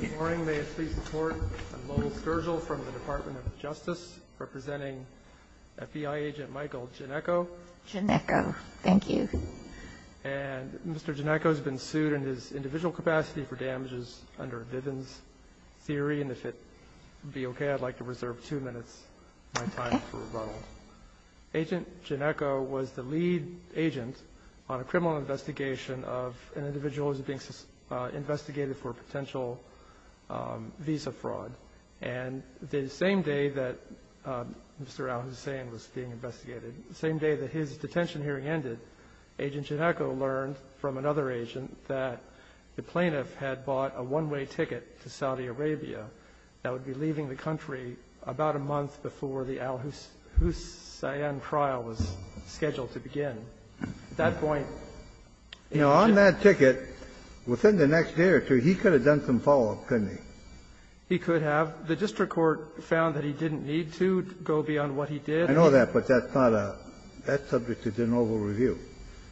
Good morning. May it please the Court, I'm Lowell Sturgill from the Department of Justice, representing FBI agent Michael Gneckow. Gneckow. Thank you. And Mr. Gneckow has been sued in his individual capacity for damages under Viven's theory. And if it would be okay, I'd like to reserve two minutes of my time for rebuttal. Agent Gneckow was the lead agent on a criminal investigation of an individual who was being investigated for potential visa fraud. And the same day that Mr. al-Hussein was being investigated, the same day that his detention hearing ended, Agent Gneckow learned from another agent that the plaintiff had bought a one-way ticket to Saudi Arabia that would be leaving the country about a month before the al-Hussein trial was scheduled to begin. At that point, Agent Gneckow You know, on that ticket, within the next year or two, he could have done some follow-up, couldn't he? He could have. The district court found that he didn't need to go beyond what he did. I know that, but that's not a that's subject to de novo review.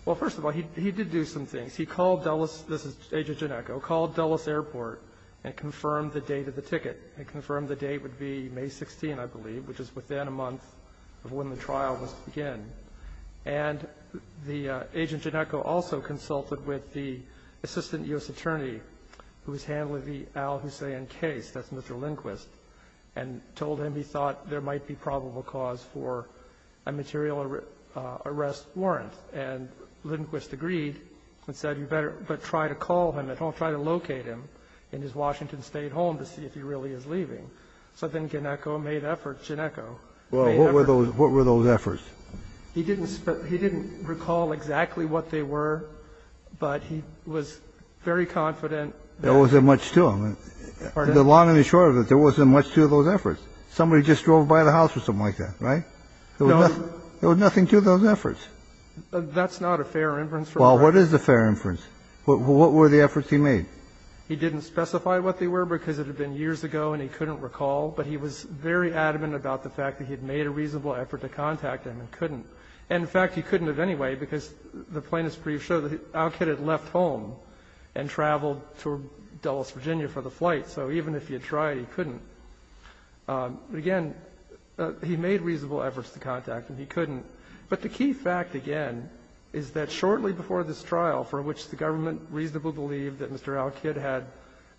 Well, first of all, he did do some things. He called Dulles, this is Agent Gneckow, called Dulles Airport and confirmed the date of the ticket, and confirmed the date would be May 16, I believe, which is within a month of when the trial was to begin. And the Agent Gneckow also consulted with the assistant U.S. attorney who was handling the al-Hussein case, that's Mr. Lindquist, and told him he thought there might be probable cause for a material arrest warrant. And Lindquist agreed and said, you better try to call him at home, try to locate him in his Washington State home to see if he really is leaving. So then Gneckow made efforts. Gneckow made efforts. Well, what were those efforts? He didn't recall exactly what they were, but he was very confident that there wasn't much to them. Pardon? In the long and the short of it, there wasn't much to those efforts. There was nothing to those efforts. That's not a fair inference. Well, what is a fair inference? What were the efforts he made? He didn't specify what they were because it had been years ago and he couldn't recall, but he was very adamant about the fact that he had made a reasonable effort to contact him and couldn't. And, in fact, he couldn't have anyway because the plaintiff's brief showed that Alcott had left home and traveled to Dulles, Virginia, for the flight. So even if he had tried, he couldn't. But, again, he made reasonable efforts to contact and he couldn't. But the key fact, again, is that shortly before this trial, for which the government reasonably believed that Mr. Alcott had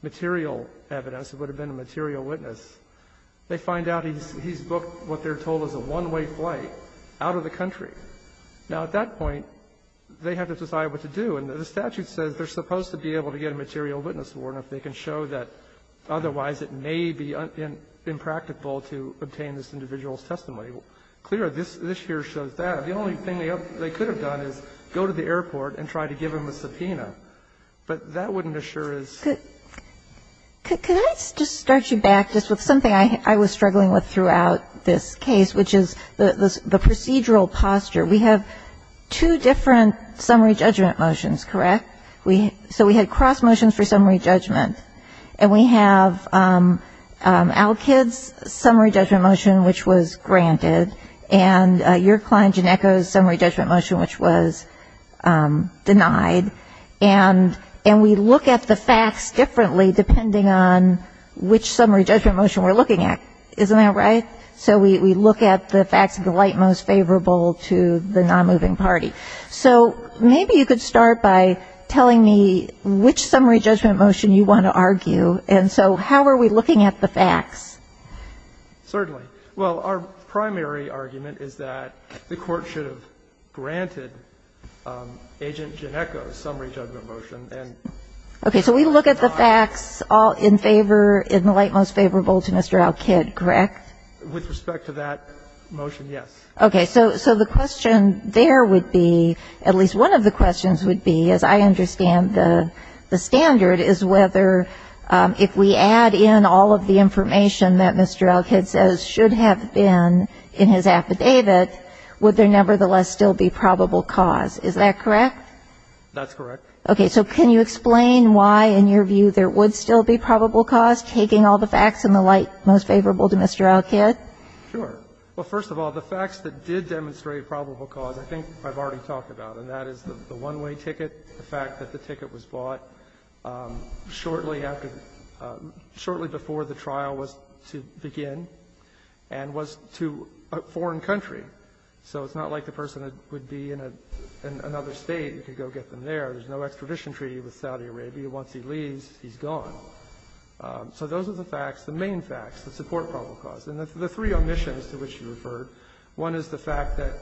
material evidence, it would have been a material witness, they find out he's booked what they're told is a one-way flight out of the country. Now, at that point, they have to decide what to do. And the statute says they're supposed to be able to get a material witness to warn if they can show that otherwise it may be impractical to obtain this individual's testimony. Clear, this here shows that. The only thing they could have done is go to the airport and try to give him a subpoena. But that wouldn't assure us. Ginsburg. Could I just start you back just with something I was struggling with throughout this case, which is the procedural posture. We have two different summary judgment motions, correct? So we had cross motions for summary judgment and we have Alkid's summary judgment motion, which was granted, and your Klein-Gineko's summary judgment motion, which was denied. And we look at the facts differently depending on which summary judgment motion we're looking at. Isn't that right? So we look at the facts of the light most favorable to the non-moving party. So maybe you could start by telling me which summary judgment motion you want to argue. And so how are we looking at the facts? Certainly. Well, our primary argument is that the Court should have granted Agent Gineko's summary judgment motion and denied. Okay. So we look at the facts in favor, in the light most favorable to Mr. Alkid, correct? With respect to that motion, yes. Okay. So the question there would be, at least one of the questions would be, as I understand the standard, is whether if we add in all of the information that Mr. Alkid says should have been in his affidavit, would there nevertheless still be probable cause. Is that correct? That's correct. Okay. So can you explain why, in your view, there would still be probable cause, taking all the facts in the light most favorable to Mr. Alkid? Sure. Well, first of all, the facts that did demonstrate probable cause, I think I've already talked about. And that is the one-way ticket, the fact that the ticket was bought shortly after the – shortly before the trial was to begin and was to a foreign country. So it's not like the person would be in another State and could go get them there. There's no extradition treaty with Saudi Arabia. Once he leaves, he's gone. So those are the facts, the main facts that support probable cause. And the three omissions to which you referred, one is the fact that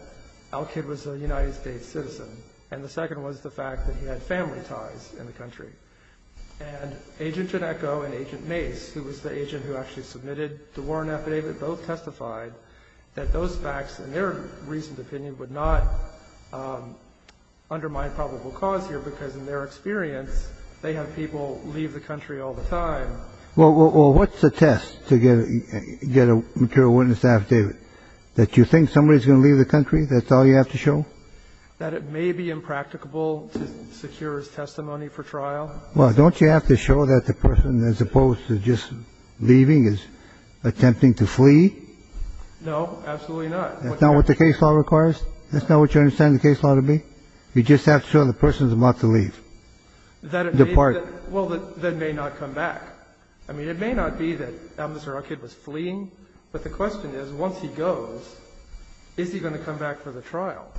Alkid was a United States citizen, and the second was the fact that he had family ties in the country. And Agent Genecco and Agent Mace, who was the agent who actually submitted the Warren affidavit, both testified that those facts, in their recent opinion, would not undermine probable cause here, because in their experience, they have people leave the country all the time. Well, what's the test to get a material witness affidavit? That you think somebody's going to leave the country? That's all you have to show? That it may be impracticable to secure his testimony for trial? Well, don't you have to show that the person, as opposed to just leaving, is attempting to flee? No, absolutely not. That's not what the case law requires? That's not what you understand the case law to be? You just have to show the person's about to leave. Depart. Well, that may not come back. I mean, it may not be that Mr. Alkid was fleeing, but the question is, once he goes, is he going to come back for the trial?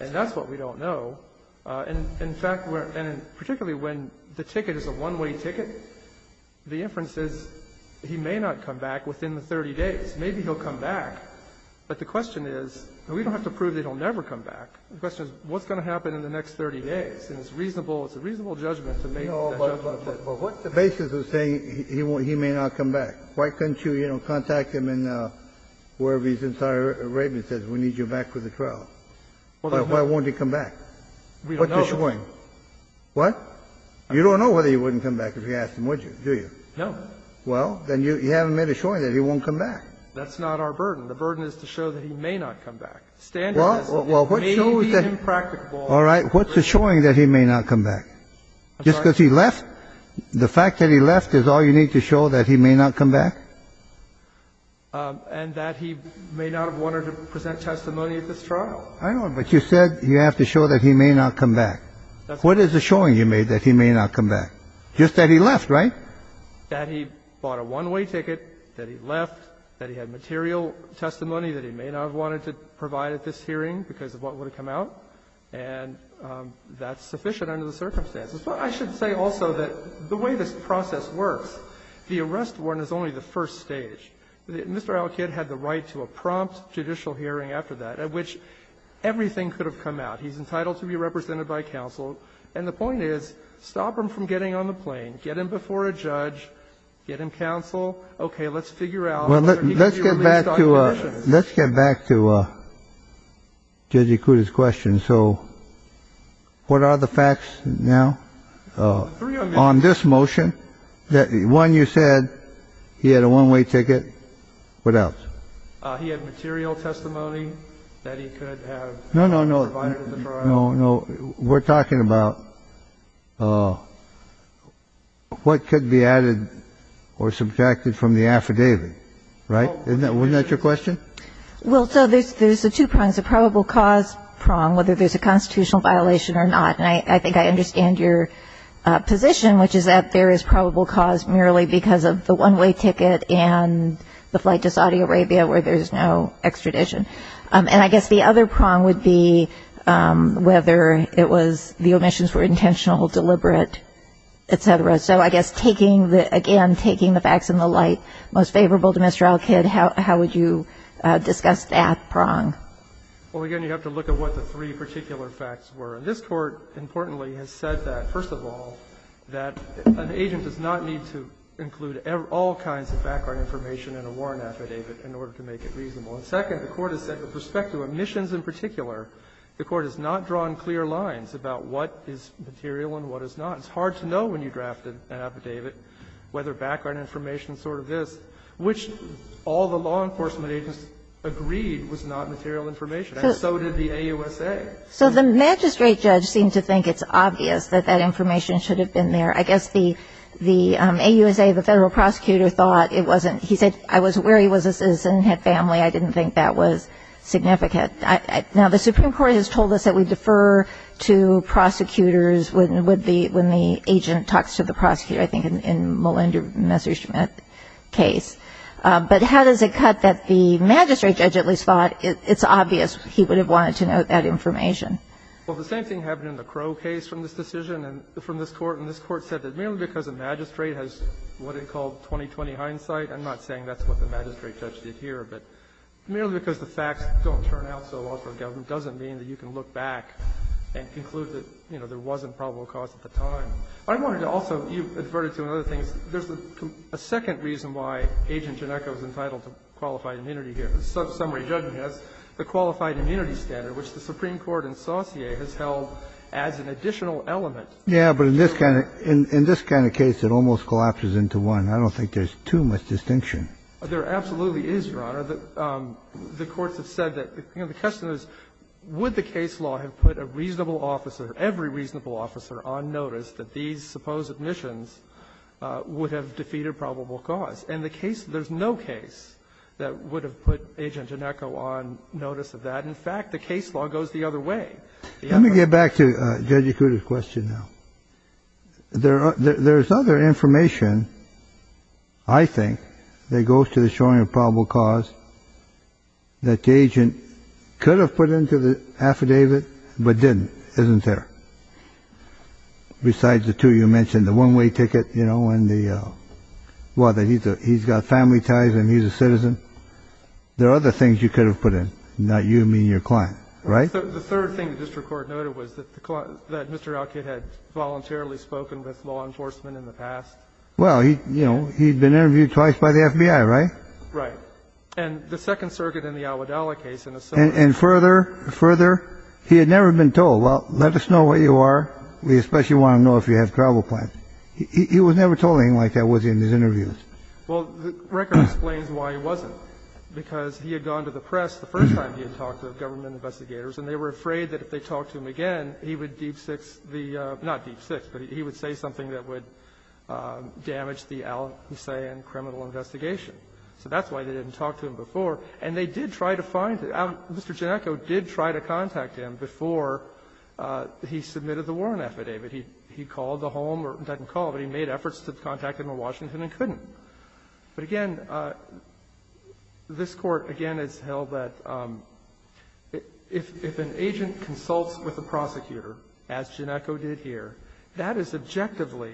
And that's what we don't know. In fact, and particularly when the ticket is a one-way ticket, the inference is he may not come back within the 30 days. Maybe he'll come back, but the question is, we don't have to prove that he'll never come back. The question is, what's going to happen in the next 30 days? And it's reasonable, it's a reasonable judgment to make that judgment. No, but what's the basis of saying he may not come back? Why couldn't you, you know, contact him in wherever his entire arraignment says, we need you back for the trial? Why won't he come back? What's the showing? What? You don't know whether he wouldn't come back if you asked him, would you, do you? No. Well, then you haven't made a showing that he won't come back. That's not our burden. The burden is to show that he may not come back. Well, what shows that he may not come back? Just because he left? The fact that he left is all you need to show that he may not come back? And that he may not have wanted to present testimony at this trial. I know, but you said you have to show that he may not come back. What is the showing you made that he may not come back? Just that he left, right? That he bought a one-way ticket, that he left, that he had material testimony that he may not have wanted to provide at this hearing because of what would have come out, and that's sufficient under the circumstances. But I should say also that the way this process works, the arrest warrant is only the first stage. Mr. Alkidd had the right to a prompt judicial hearing after that, at which everything could have come out. He's entitled to be represented by counsel. And the point is, stop him from getting on the plane. Get him before a judge. Get him counsel. Okay, let's figure out whether he can be released on conditions. Let's get back to Judge Ikuda's question. So what are the facts now on this motion? One, you said he had a one-way ticket. What else? He had material testimony that he could have provided at the trial. No, no, no. We're talking about what could be added or subtracted from the affidavit. Right? Wasn't that your question? Well, so there's the two prongs, the probable cause prong, whether there's a constitutional violation or not. And I think I understand your position, which is that there is probable cause merely because of the one-way ticket and the flight to Saudi Arabia where there's no extradition. And I guess the other prong would be whether it was the omissions were intentional, deliberate, et cetera. So I guess taking the – again, taking the facts in the light most favorable to Mr. Alkidd, how would you discuss that prong? Well, again, you have to look at what the three particular facts were. And this Court, importantly, has said that, first of all, that an agent does not need to include all kinds of background information in a Warren affidavit in order to make it reasonable. And second, the Court has said, with respect to omissions in particular, the Court has not drawn clear lines about what is material and what is not. It's hard to know when you draft an affidavit whether background information is sort of this, which all the law enforcement agents agreed was not material information, and so did the AUSA. So the magistrate judge seemed to think it's obvious that that information should have been there. I guess the AUSA, the federal prosecutor, thought it wasn't – he said, I was aware he was a citizen and had family. I didn't think that was significant. Now, the Supreme Court has told us that we defer to prosecutors when the agent talks to the prosecutor, I think in Melinda Messerschmidt's case. But how does it cut that the magistrate judge at least thought it's obvious he would have wanted to know that information? Well, the same thing happened in the Crow case from this decision and from this Court. And this Court said that merely because a magistrate has what it called 20-20 hindsight – I'm not saying that's what the magistrate judge did here, but merely because the facts don't turn out so well for a government doesn't mean that you can look back and conclude that, you know, there wasn't probable cause at the time. I wanted to also – you've adverted to other things. There's a second reason why Agent Janecka was entitled to qualified immunity here, somebody judging us, the qualified immunity standard, which the Supreme Court in Saussure has held as an additional element. Yeah, but in this kind of case, it almost collapses into one. I don't think there's too much distinction. There absolutely is, Your Honor. The courts have said that, you know, the question is would the case law have put a reasonable officer, every reasonable officer, on notice that these supposed omissions would have defeated probable cause. And the case – there's no case that would have put Agent Janecka on notice of that. In fact, the case law goes the other way. Let me get back to Judge Yakuta's question now. There's other information, I think, that goes to the showing of probable cause that the agent could have put into the affidavit, but didn't, isn't there? Besides the two you mentioned, the one-way ticket, you know, and the – well, he's got family ties and he's a citizen. There are other things you could have put in, not you, me, and your client, right? The third thing the district court noted was that the – that Mr. Alkit had voluntarily spoken with law enforcement in the past. Well, you know, he'd been interviewed twice by the FBI, right? Right. And the Second Circuit in the Al-Wadalah case in a certain – And further, further, he had never been told, well, let us know what you are. We especially want to know if you have probable cause. He was never told anything like that was in his interviews. Well, the record explains why he wasn't, because he had gone to the press the first time he had talked to government investigators, and they were afraid that if they talked to him again, he would deep-six the – not deep-six, but he would say something that would damage the Al-Hussein criminal investigation. So that's why they didn't talk to him before. And they did try to find – Mr. Ginecco did try to contact him before he submitted the warrant affidavit. He called the home or didn't call, but he made efforts to contact him in Washington and couldn't. But, again, this Court, again, has held that if an agent consults with a prosecutor, as Ginecco did here, that is objectively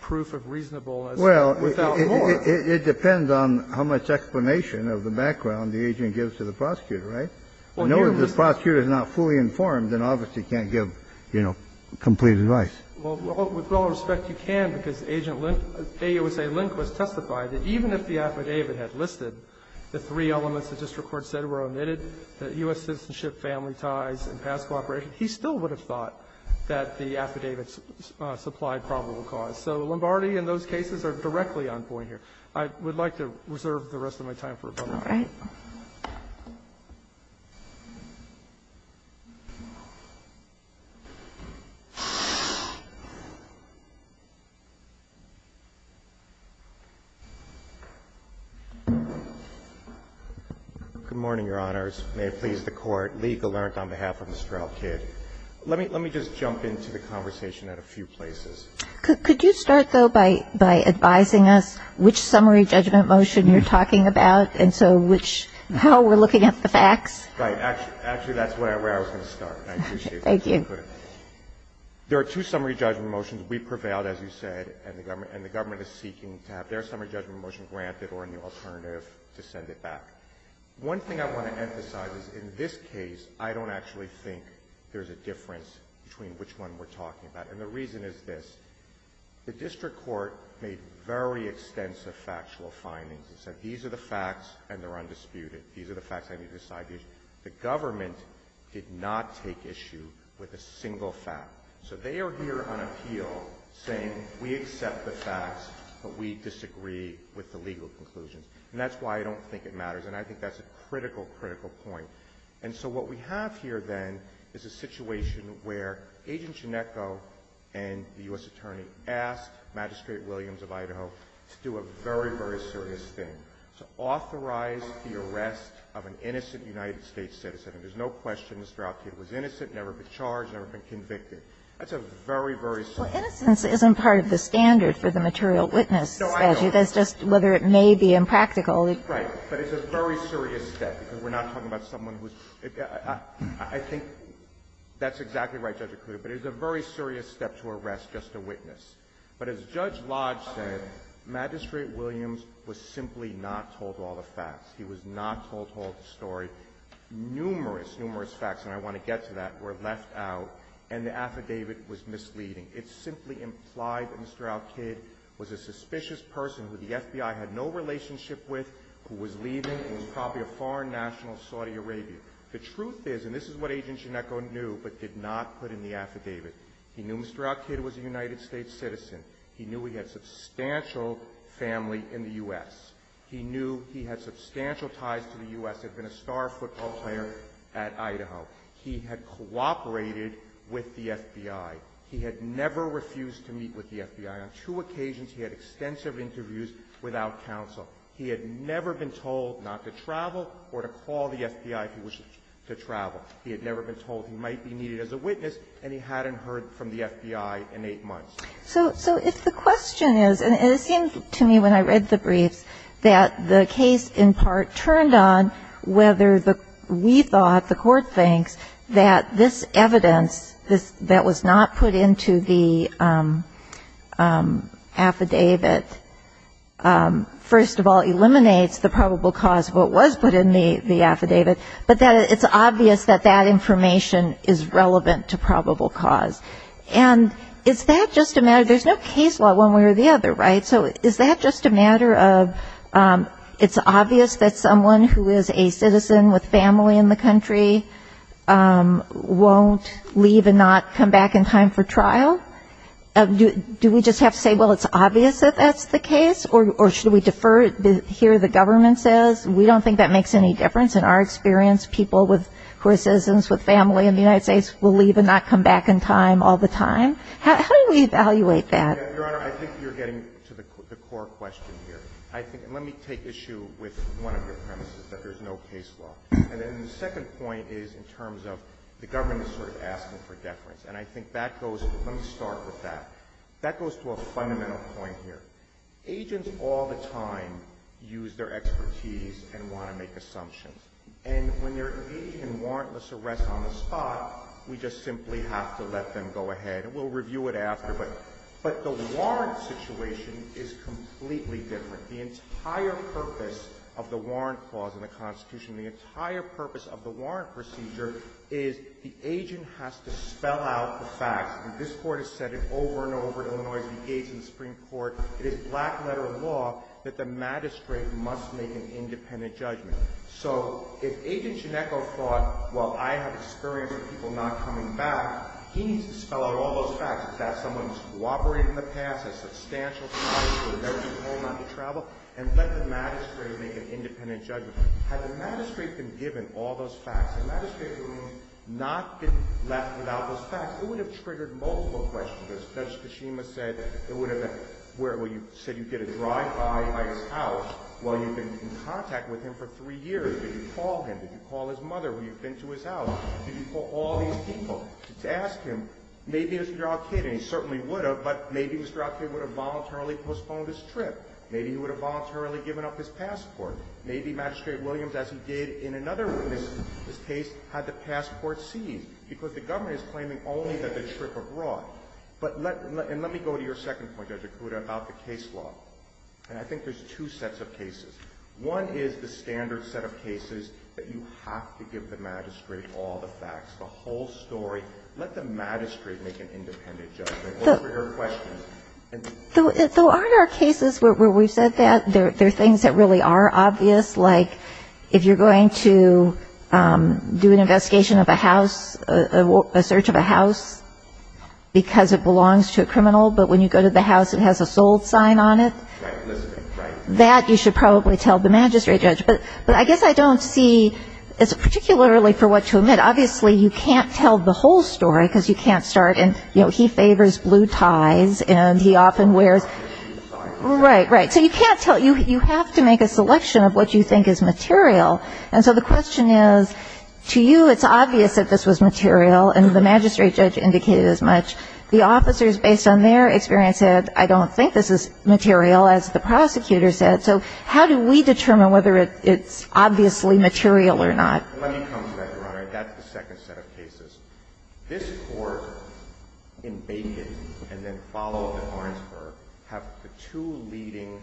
proof of reasonableness without more. Well, it depends on how much explanation of the background the agent gives to the prosecutor, right? Well, here we – I know if the prosecutor is not fully informed, then obviously can't give, you know, complete advice. Well, with all respect, you can, because Agent Linc – AUSA Linc was testified that even if the affidavit had listed the three elements the district court said were omitted, the U.S. citizenship, family ties, and past cooperation, he still would have thought that the affidavit supplied probable cause. So Lombardi and those cases are directly on point here. I would like to reserve the rest of my time for rebuttal. All right. Good morning, Your Honors. May it please the Court, Lee Gallant on behalf of Mr. Elkid. Let me – let me just jump into the conversation at a few places. Could you start, though, by advising us which summary judgment motion you're talking about and so which – how we're looking at the facts? Right. Actually, that's where I was going to start. I appreciate it. Thank you. There are two summary judgment motions. We prevailed, as you said, and the government is seeking to have their summary judgment motion granted or a new alternative to send it back. One thing I want to emphasize is in this case, I don't actually think there's a difference between which one we're talking about. And the reason is this. The district court made very extensive factual findings. It said these are the facts and they're undisputed. These are the facts and they decide the issue. The government did not take issue with a single fact. So they are here on appeal saying we accept the facts, but we disagree with the legal conclusions, and that's why I don't think it matters. And I think that's a critical, critical point. And so what we have here, then, is a situation where Agent Ginecco and the U.S. Attorney asked Magistrate Williams of Idaho to do a very, very serious thing, to authorize the arrest of an innocent United States citizen. And there's no question, Mr. Alito, it was innocent, never been charged, never been convicted. That's a very, very serious thing. Kagan. Well, innocence isn't part of the standard for the material witness statute. That's just whether it may be impractical. Right. But it's a very serious step, because we're not talking about someone who's – I think that's exactly right, Judge O'Connor, but it's a very serious step to arrest just a witness. But as Judge Lodge said, Magistrate Williams was simply not told all the facts. He was not told all the story. Numerous, numerous facts, and I want to get to that, were left out, and the affidavit was misleading. It simply implied that Mr. Al-Kid was a suspicious person who the FBI had no relationship with, who was leaving, who was probably a foreign national of Saudi Arabia. The truth is, and this is what Agent Ginecco knew but did not put in the affidavit, he knew Mr. Al-Kid was a United States citizen. He knew he had substantial family in the U.S. He knew he had substantial ties to the U.S., had been a star football player at Idaho. He had cooperated with the FBI. He had never refused to meet with the FBI. On two occasions, he had extensive interviews without counsel. He had never been told not to travel or to call the FBI if he wished to travel. He had never been told he might be needed as a witness, and he hadn't heard from the FBI in eight months. So if the question is, and it seemed to me when I read the briefs that the case in part turned on whether we thought, the Court thinks, that this evidence that was not put into the affidavit, first of all, eliminates the probable cause of what was put in the affidavit, but that it's obvious that that information is relevant to probable cause. And is that just a matter, there's no case law one way or the other, right? So is that just a matter of, it's obvious that someone who is a citizen with family in the country won't leave and not come back in time for trial? Do we just have to say, well, it's obvious that that's the case? Or should we defer to hear what the government says? We don't think that makes any difference. In our experience, people who are citizens with family in the United States will leave and not come back in time all the time. How do we evaluate that? Your Honor, I think you're getting to the core question here. I think, and let me take issue with one of your premises, that there's no case law. And then the second point is in terms of the government is sort of asking for deference. And I think that goes, let me start with that. That goes to a fundamental point here. Agents all the time use their expertise and want to make assumptions. And when they're engaging in warrantless arrest on the spot, we just simply have to let them go ahead. And we'll review it afterward. But the warrant situation is completely different. The entire purpose of the warrant clause in the Constitution, the entire purpose of the warrant procedure is the agent has to spell out the facts. And this Court has said it over and over at Illinois' Begate and Supreme Court. It is black-letter law that the magistrate must make an independent judgment. So if Agent Shinneko thought, well, I have experience of people not coming back, he needs to spell out all those facts. Has that someone who's cooperated in the past, has substantial ties to a number of people not to travel? And let the magistrate make an independent judgment. Had the magistrate been given all those facts, had the magistrate not been left without those facts, it would have triggered multiple questions. Judge Kishima said it would have been, well, you said you'd get a drive-by at his house while you've been in contact with him for three years. Did you call him? Did you call his mother when you've been to his house? Did you call all these people to ask him, maybe Mr. Alkid, and he certainly would have, but maybe Mr. Alkid would have voluntarily postponed his trip. Maybe he would have voluntarily given up his passport. Maybe Magistrate Williams, as he did in another case, had the passport seized because the government is claiming only that the trip abroad. But let me go to your second point, Judge Akuta, about the case law. And I think there's two sets of cases. One is the standard set of cases that you have to give the magistrate all the facts, the whole story. Let the magistrate make an independent judgment over your questions. Though aren't there cases where we've said that? There are things that really are obvious, like if you're going to do an investigation of a house, a search of a house, because it belongs to a criminal, but when you go to the house, it has a sold sign on it. That you should probably tell the magistrate judge. But I guess I don't see, particularly for what to admit, obviously you can't tell the whole story because you can't start in, you know, he favors blue ties, and he often wears. Right, right. So you can't tell. You have to make a selection of what you think is material. And so the question is, to you, it's obvious that this was material, and the magistrate judge indicated as much. The officers, based on their experience, said, I don't think this is material, as the prosecutor said. So how do we determine whether it's obviously material or not? Let me come to that, Your Honor. That's the second set of cases. This court, in Bacon, and then followed by Barnesburg, have the two leading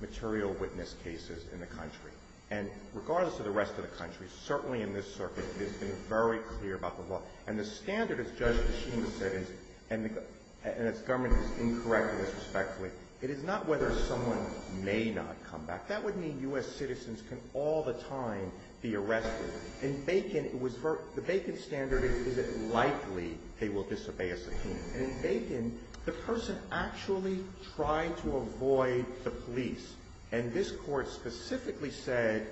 material witness cases in the country. And regardless of the rest of the country, certainly in this circuit, it has been very clear about the law. And the standard, as Judge DeCheney said, and as government has incorrected this respectfully, it is not whether someone may not come back. That would mean US citizens can all the time be arrested. In Bacon, the Bacon standard is, is it likely they will disobey a subpoena. In Bacon, the person actually tried to avoid the police. And this court specifically said,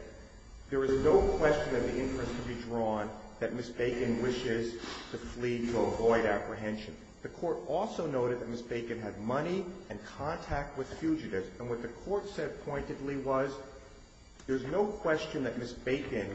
there is no question that the interest could be drawn that Ms. Bacon wishes to flee to avoid apprehension. The court also noted that Ms. Bacon had money and contact with fugitives. And what the court said pointedly was, there's no question that Ms. Bacon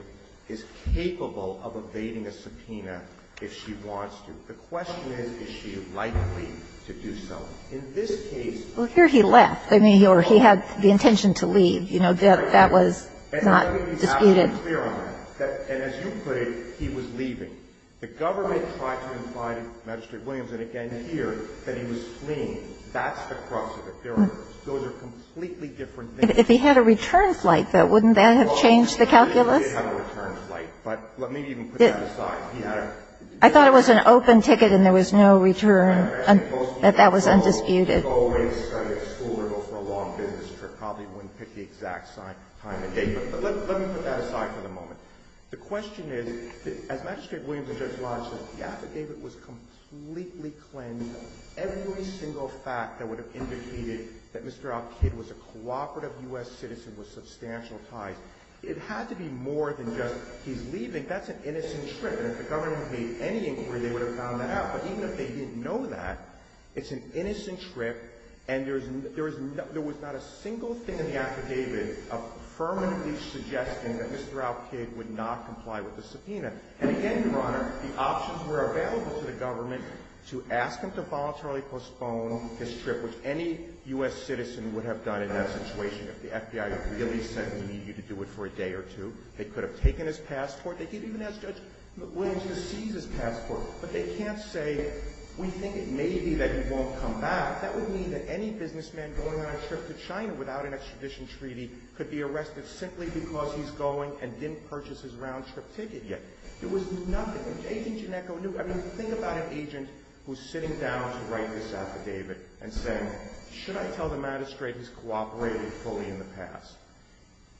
is capable of evading a subpoena if she wants to. The question is, is she likely to do so? In this case- Well, here he left. I mean, he had the intention to leave. You know, that was not disputed. And I think he's absolutely clear on that. And as you put it, he was leaving. The government tried to imply to Magistrate Williams, and again here, that he was fleeing. That's the crux of the pyramid. Those are completely different things. If he had a return flight, though, wouldn't that have changed the calculus? Well, he did have a return flight, but let me even put that aside. He had a- I thought it was an open ticket and there was no return, that that was undisputed. He would always go to school or go for a long business trip, probably wouldn't pick the exact time of day. But let me put that aside for the moment. The question is, as Magistrate Williams and Judge Lodge said, the gap at David was completely cleansed. Every single fact that would have indicated that Mr. Alkid was a cooperative U.S. citizen with substantial ties, it had to be more than just, he's leaving. That's an innocent trip. And if the government had made any inquiry, they would have found that out. But even if they didn't know that, it's an innocent trip and there was not a single thing in the affidavit affirmatively suggesting that Mr. Alkid would not comply with the subpoena. And again, Your Honor, the options were available to the government to ask him to voluntarily postpone his trip, which any U.S. citizen would have done in that situation if the FBI really said we need you to do it for a day or two. They could have taken his passport. They could even ask Judge Williams to seize his passport. But they can't say, we think it may be that he won't come back. That would mean that any businessman going on a trip to China without an extradition treaty could be arrested simply because he's going and didn't purchase his round-trip ticket yet. There was nothing. I mean, think about an agent who's sitting down to write this affidavit and saying, should I tell the magistrate he's cooperated fully in the past?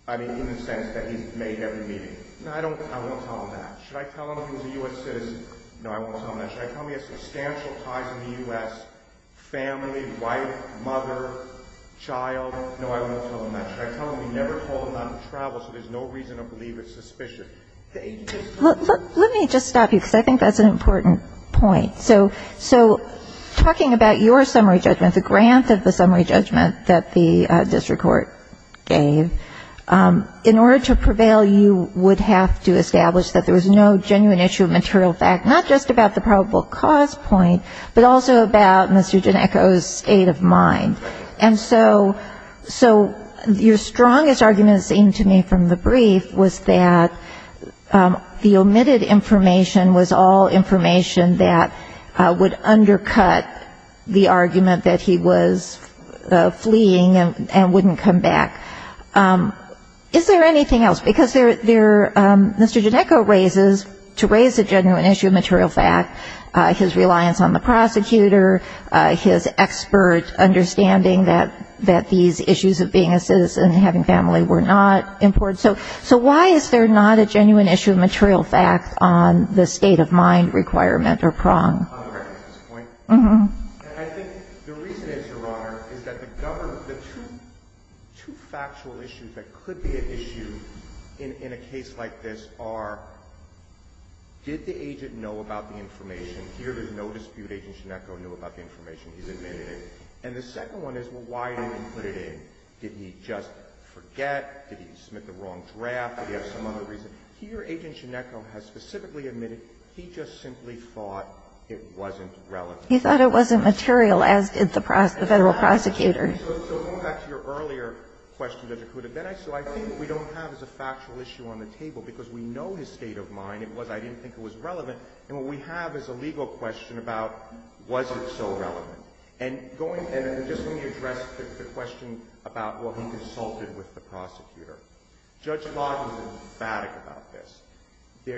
I mean, in the sense that he's made every meeting. No, I won't tell him that. Should I tell him he was a U.S. citizen? No, I won't tell him that. Should I tell him he has substantial ties in the U.S., family, wife, mother, child? No, I won't tell him that. Should I tell him he never told him not to travel so there's no reason to believe it's suspicious? Let me just stop you because I think that's an important point. So talking about your summary judgment, the grant of the summary judgment that the district court gave, in order to prevail, you would have to establish that there was no genuine issue of material fact, not just about the probable cause point, but also about Mr. Ginecco's state of mind. And so your strongest argument, it seemed to me, from the brief was that the omitted information was all information that would undercut the argument that he was fleeing and wouldn't come back. Is there anything else? Because there Mr. Ginecco raises, to raise a genuine issue of material fact, his reliance on the prosecutor, his expert understanding that these issues of being a citizen and having family were not important. So why is there not a genuine issue of material fact on the state of mind requirement or prong? On the recognition point? Uh-huh. And I think the reason is, Your Honor, is that the government, the two factual issues that could be an issue in a case like this are did the agent know about the information? Here, there's no dispute. Agent Ginecco knew about the information. He's admitted it. And the second one is, well, why didn't he put it in? Did he just forget? Did he submit the wrong draft? Did he have some other reason? Here, Agent Ginecco has specifically admitted he just simply thought it wasn't relevant. He thought it wasn't material, as did the federal prosecutor. So going back to your earlier question, Justice Kagan, so I think what we don't have is a factual issue on the table, because we know his state of mind. It was, I didn't think it was relevant. And what we have is a legal question about was it so relevant. And just let me address the question about, well, he consulted with the prosecutor. Judge Lodge was emphatic about this. He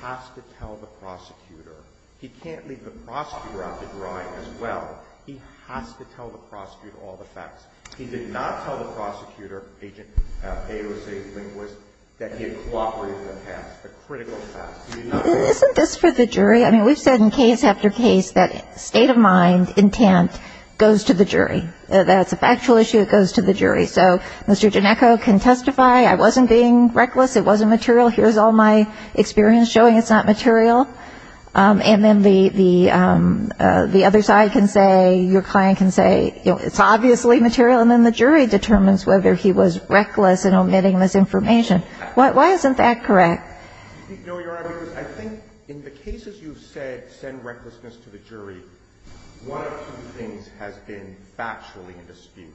has to tell the prosecutor. He can't leave the prosecutor out to dry as well. He has to tell the prosecutor all the facts. He did not tell the prosecutor, Agent A was a linguist, that he had cooperated with the past, the critical facts. Isn't this for the jury? I mean, we've said in case after case that state of mind, intent, goes to the jury. That's a factual issue. It goes to the jury. So Mr. Ginecco can testify, I wasn't being reckless, it wasn't material, here's all my experience showing it's not material. And then the other side can say, your client can say, it's obviously material. And then the jury determines whether he was reckless in omitting this information. Why isn't that correct? No, Your Honor, because I think in the cases you've said send recklessness to the jury, one of two things has been factually in dispute.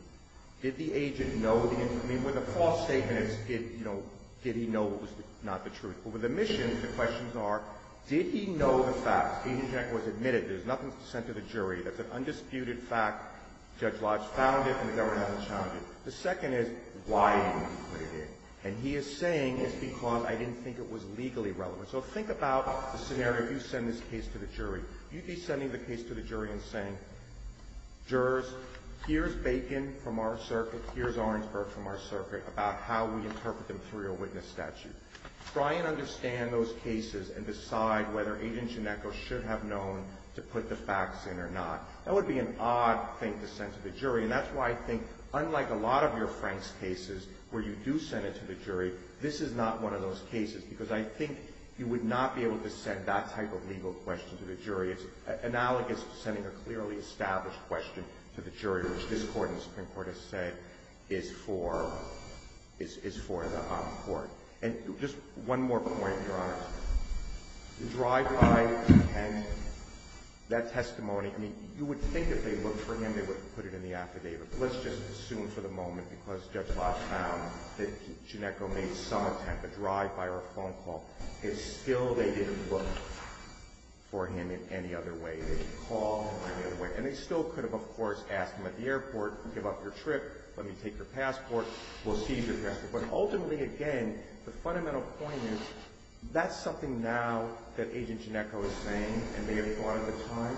Did the agent know the information? I mean, with a false statement, it's, you know, did he know what was not the truth. But with omissions, the questions are, did he know the facts? Agent Ginecco has admitted there's nothing sent to the jury. That's an undisputed fact. Judge Lodge found it and the government hasn't challenged it. The second is, why did he put it in? And he is saying it's because I didn't think it was legally relevant. So think about the scenario, you send this case to the jury. You'd be sending the case to the jury and saying, jurors, here's Bacon from our circuit, here's Orangeburg from our circuit, about how we interpret the material witness statute. Try and understand those cases and decide whether agent Ginecco should have known to put the facts in or not. And that's why I think, unlike a lot of your Franks cases where you do send it to the jury, this is not one of those cases because I think you would not be able to send that type of legal question to the jury. It's analogous to sending a clearly established question to the jury, which this Court in the Supreme Court has said is for the court. And just one more point, Your Honor. The drive-by and that testimony, I mean, you would think if they looked for him they would put it in the affidavit. Let's just assume for the moment, because Judge Lodge found that Ginecco made some attempt, a drive-by or a phone call, that still they didn't look for him in any other way. They didn't call him in any other way. And they still could have, of course, asked him at the airport, give up your trip, let me take your passport, we'll seize your passport. But ultimately, again, the fundamental point is that's something now that Agent Ginecco is saying and may have thought at the time.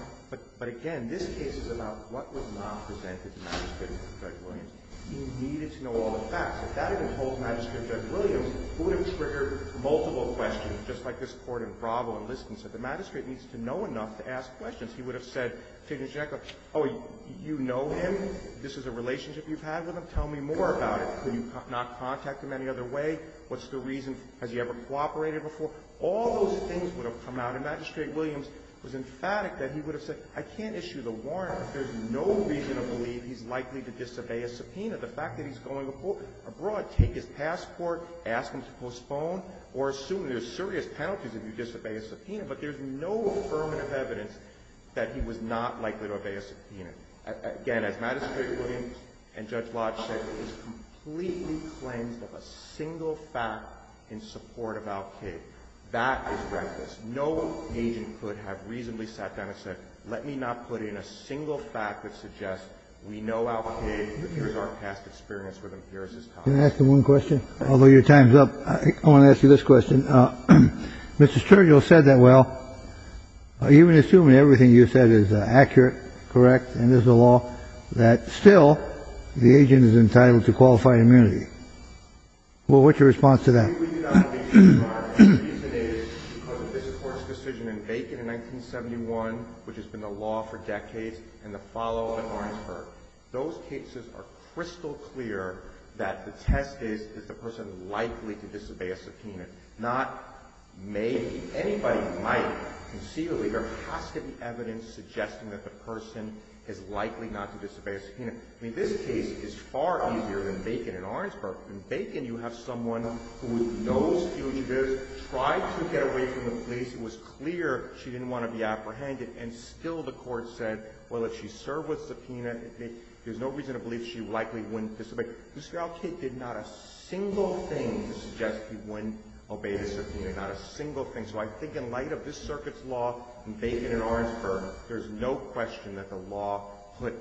But again, this case is about what was not presented to Magistrate Judge Williams. He needed to know all the facts. If that had been told to Magistrate Judge Williams, it would have triggered multiple questions, just like this Court in Bravo in Liston said. The magistrate needs to know enough to ask questions. He would have said to Agent Ginecco, oh, you know him, this is a relationship you've had with him, tell me more about it. Could you not contact him any other way? What's the reason? Has he ever cooperated before? All those things would have come out. And Magistrate Williams was emphatic that he would have said, I can't issue the warrant. There's no reason to believe he's likely to disobey a subpoena. The fact that he's going abroad, take his passport, ask him to postpone, or assume there's serious penalties if you disobey a subpoena. Again, as Magistrate Williams and Judge Lodge said, it is completely cleansed of a single fact in support of Al-Qaida. That is reckless. No agent could have reasonably sat down and said, let me not put in a single fact that suggests we know Al-Qaida. Here's our past experience with him. Here is his copy. Can I ask one question? Although your time is up, I want to ask you this question. Mr. Sturgill said that, well, even assuming everything you said is accurate, correct, and there's a law that still the agent is entitled to qualified immunity. Well, what's your response to that? The reason is because of this Court's decision in Bacon in 1971, which has been the law for decades, and the follow-up in Orensburg. Those cases are crystal clear that the test is, is the person likely to disobey a subpoena, not maybe. Anybody who might conceivably, there has to be evidence suggesting that the person is likely not to disobey a subpoena. I mean, this case is far easier than Bacon in Orensburg. In Bacon, you have someone who knows fugitives, tried to get away from the police. It was clear she didn't want to be apprehended, and still the Court said, well, if she served with subpoena, there's no reason to believe she likely wouldn't disobey. Mr. Al-Qaida did not a single thing to suggest he wouldn't obey the subpoena, not a single thing. So I think in light of this Circuit's law in Bacon and Orensburg, there's no question that the law put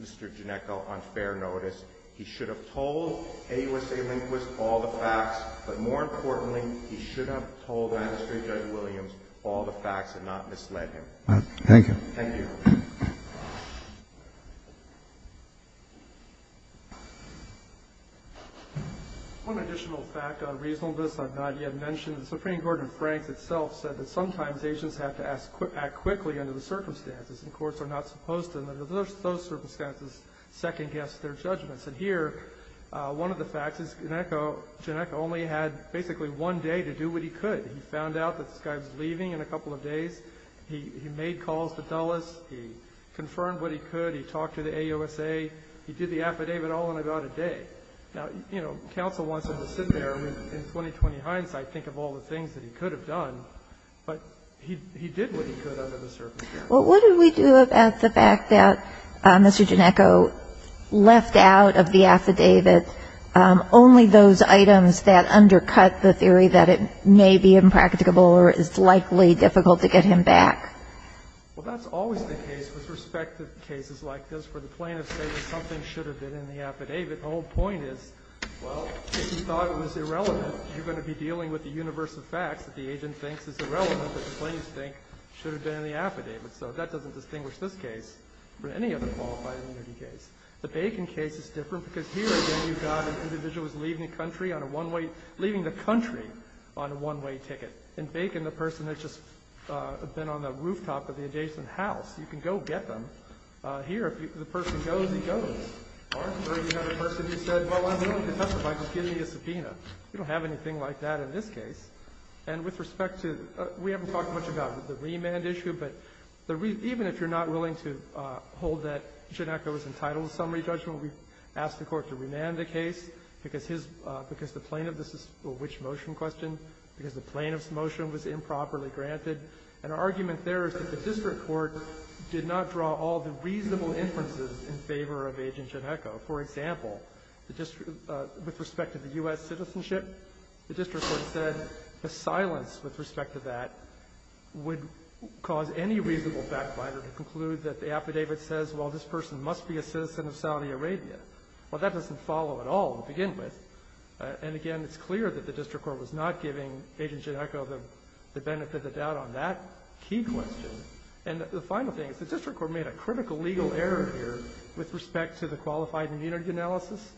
Mr. Ginecco on fair notice. He should have told AUSA Lindquist all the facts. But more importantly, he should have told Magistrate Judge Williams all the facts and not misled him. Thank you. Thank you. One additional fact on reasonableness I've not yet mentioned. The Supreme Court in Franks itself said that sometimes agents have to act quickly under the circumstances. And courts are not supposed to, under those circumstances, second-guess their judgments. And here, one of the facts is Ginecco only had basically one day to do what he could. He found out that this guy was leaving in a couple of days. He made calls to Dulles. He confirmed what he could. He talked to the AUSA. He did the affidavit all in about a day. Now, you know, counsel wants him to sit there and in 20-20 hindsight think of all the things that he could have done. But he did what he could under the circumstances. Well, what did we do about the fact that Mr. Ginecco left out of the affidavit only those items that undercut the theory that it may be impracticable or is likely difficult to get him back? Well, that's always the case with respect to cases like this where the plaintiffs say that something should have been in the affidavit. The whole point is, well, if you thought it was irrelevant, you're going to be dealing with the universe of facts that the agent thinks is irrelevant that the plaintiffs think should have been in the affidavit. So that doesn't distinguish this case from any other qualified immunity case. The Bacon case is different because here, again, you've got an individual who's leaving the country on a one-way – leaving the country on a one-way ticket. In Bacon, the person has just been on the rooftop of the adjacent house. You can go get them. Here, if the person goes, he goes. Or you have a person who said, well, I'm willing to testify. Just give me a subpoena. You don't have anything like that in this case. And with respect to – we haven't talked much about the remand issue, but even if you're not willing to hold that Ginecco was entitled to summary judgment, we've asked the Court to remand the case because his – because the plaintiff's – well, which motion question? Because the plaintiff's motion was improperly granted. And our argument there is that the district court did not draw all the reasonable inferences in favor of Agent Ginecco. For example, the district – with respect to the U.S. citizenship, the district court said the silence with respect to that would cause any reasonable backbiter to conclude that the affidavit says, well, this person must be a citizen of Saudi Arabia. Well, that doesn't follow at all to begin with. And again, it's clear that the district court was not giving Agent Ginecco the benefit of the doubt on that key question. And the final thing is the district court made a critical legal error here with respect to the qualified immunity analysis.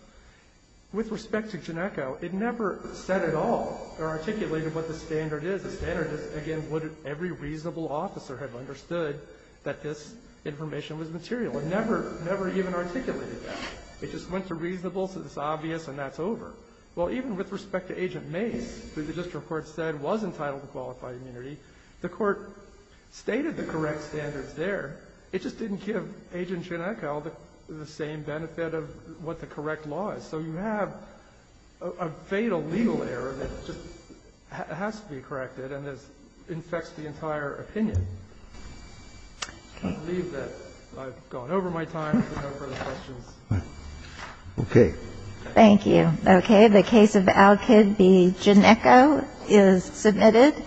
With respect to Ginecco, it never said at all or articulated what the standard is. The standard is, again, would every reasonable officer have understood that this information was material. It never – never even articulated that. It just went to reasonable, said it's obvious, and that's over. Well, even with respect to Agent Mace, who the district court said was entitled to qualified immunity, the court stated the correct standards there. It just didn't give Agent Ginecco the same benefit of what the correct law is. So you have a fatal legal error that just has to be corrected and has – infects the entire opinion. I believe that I've gone over my time. If there are no further questions. Okay. Thank you. Okay. The case of Al-Kid v. Ginecco is submitted.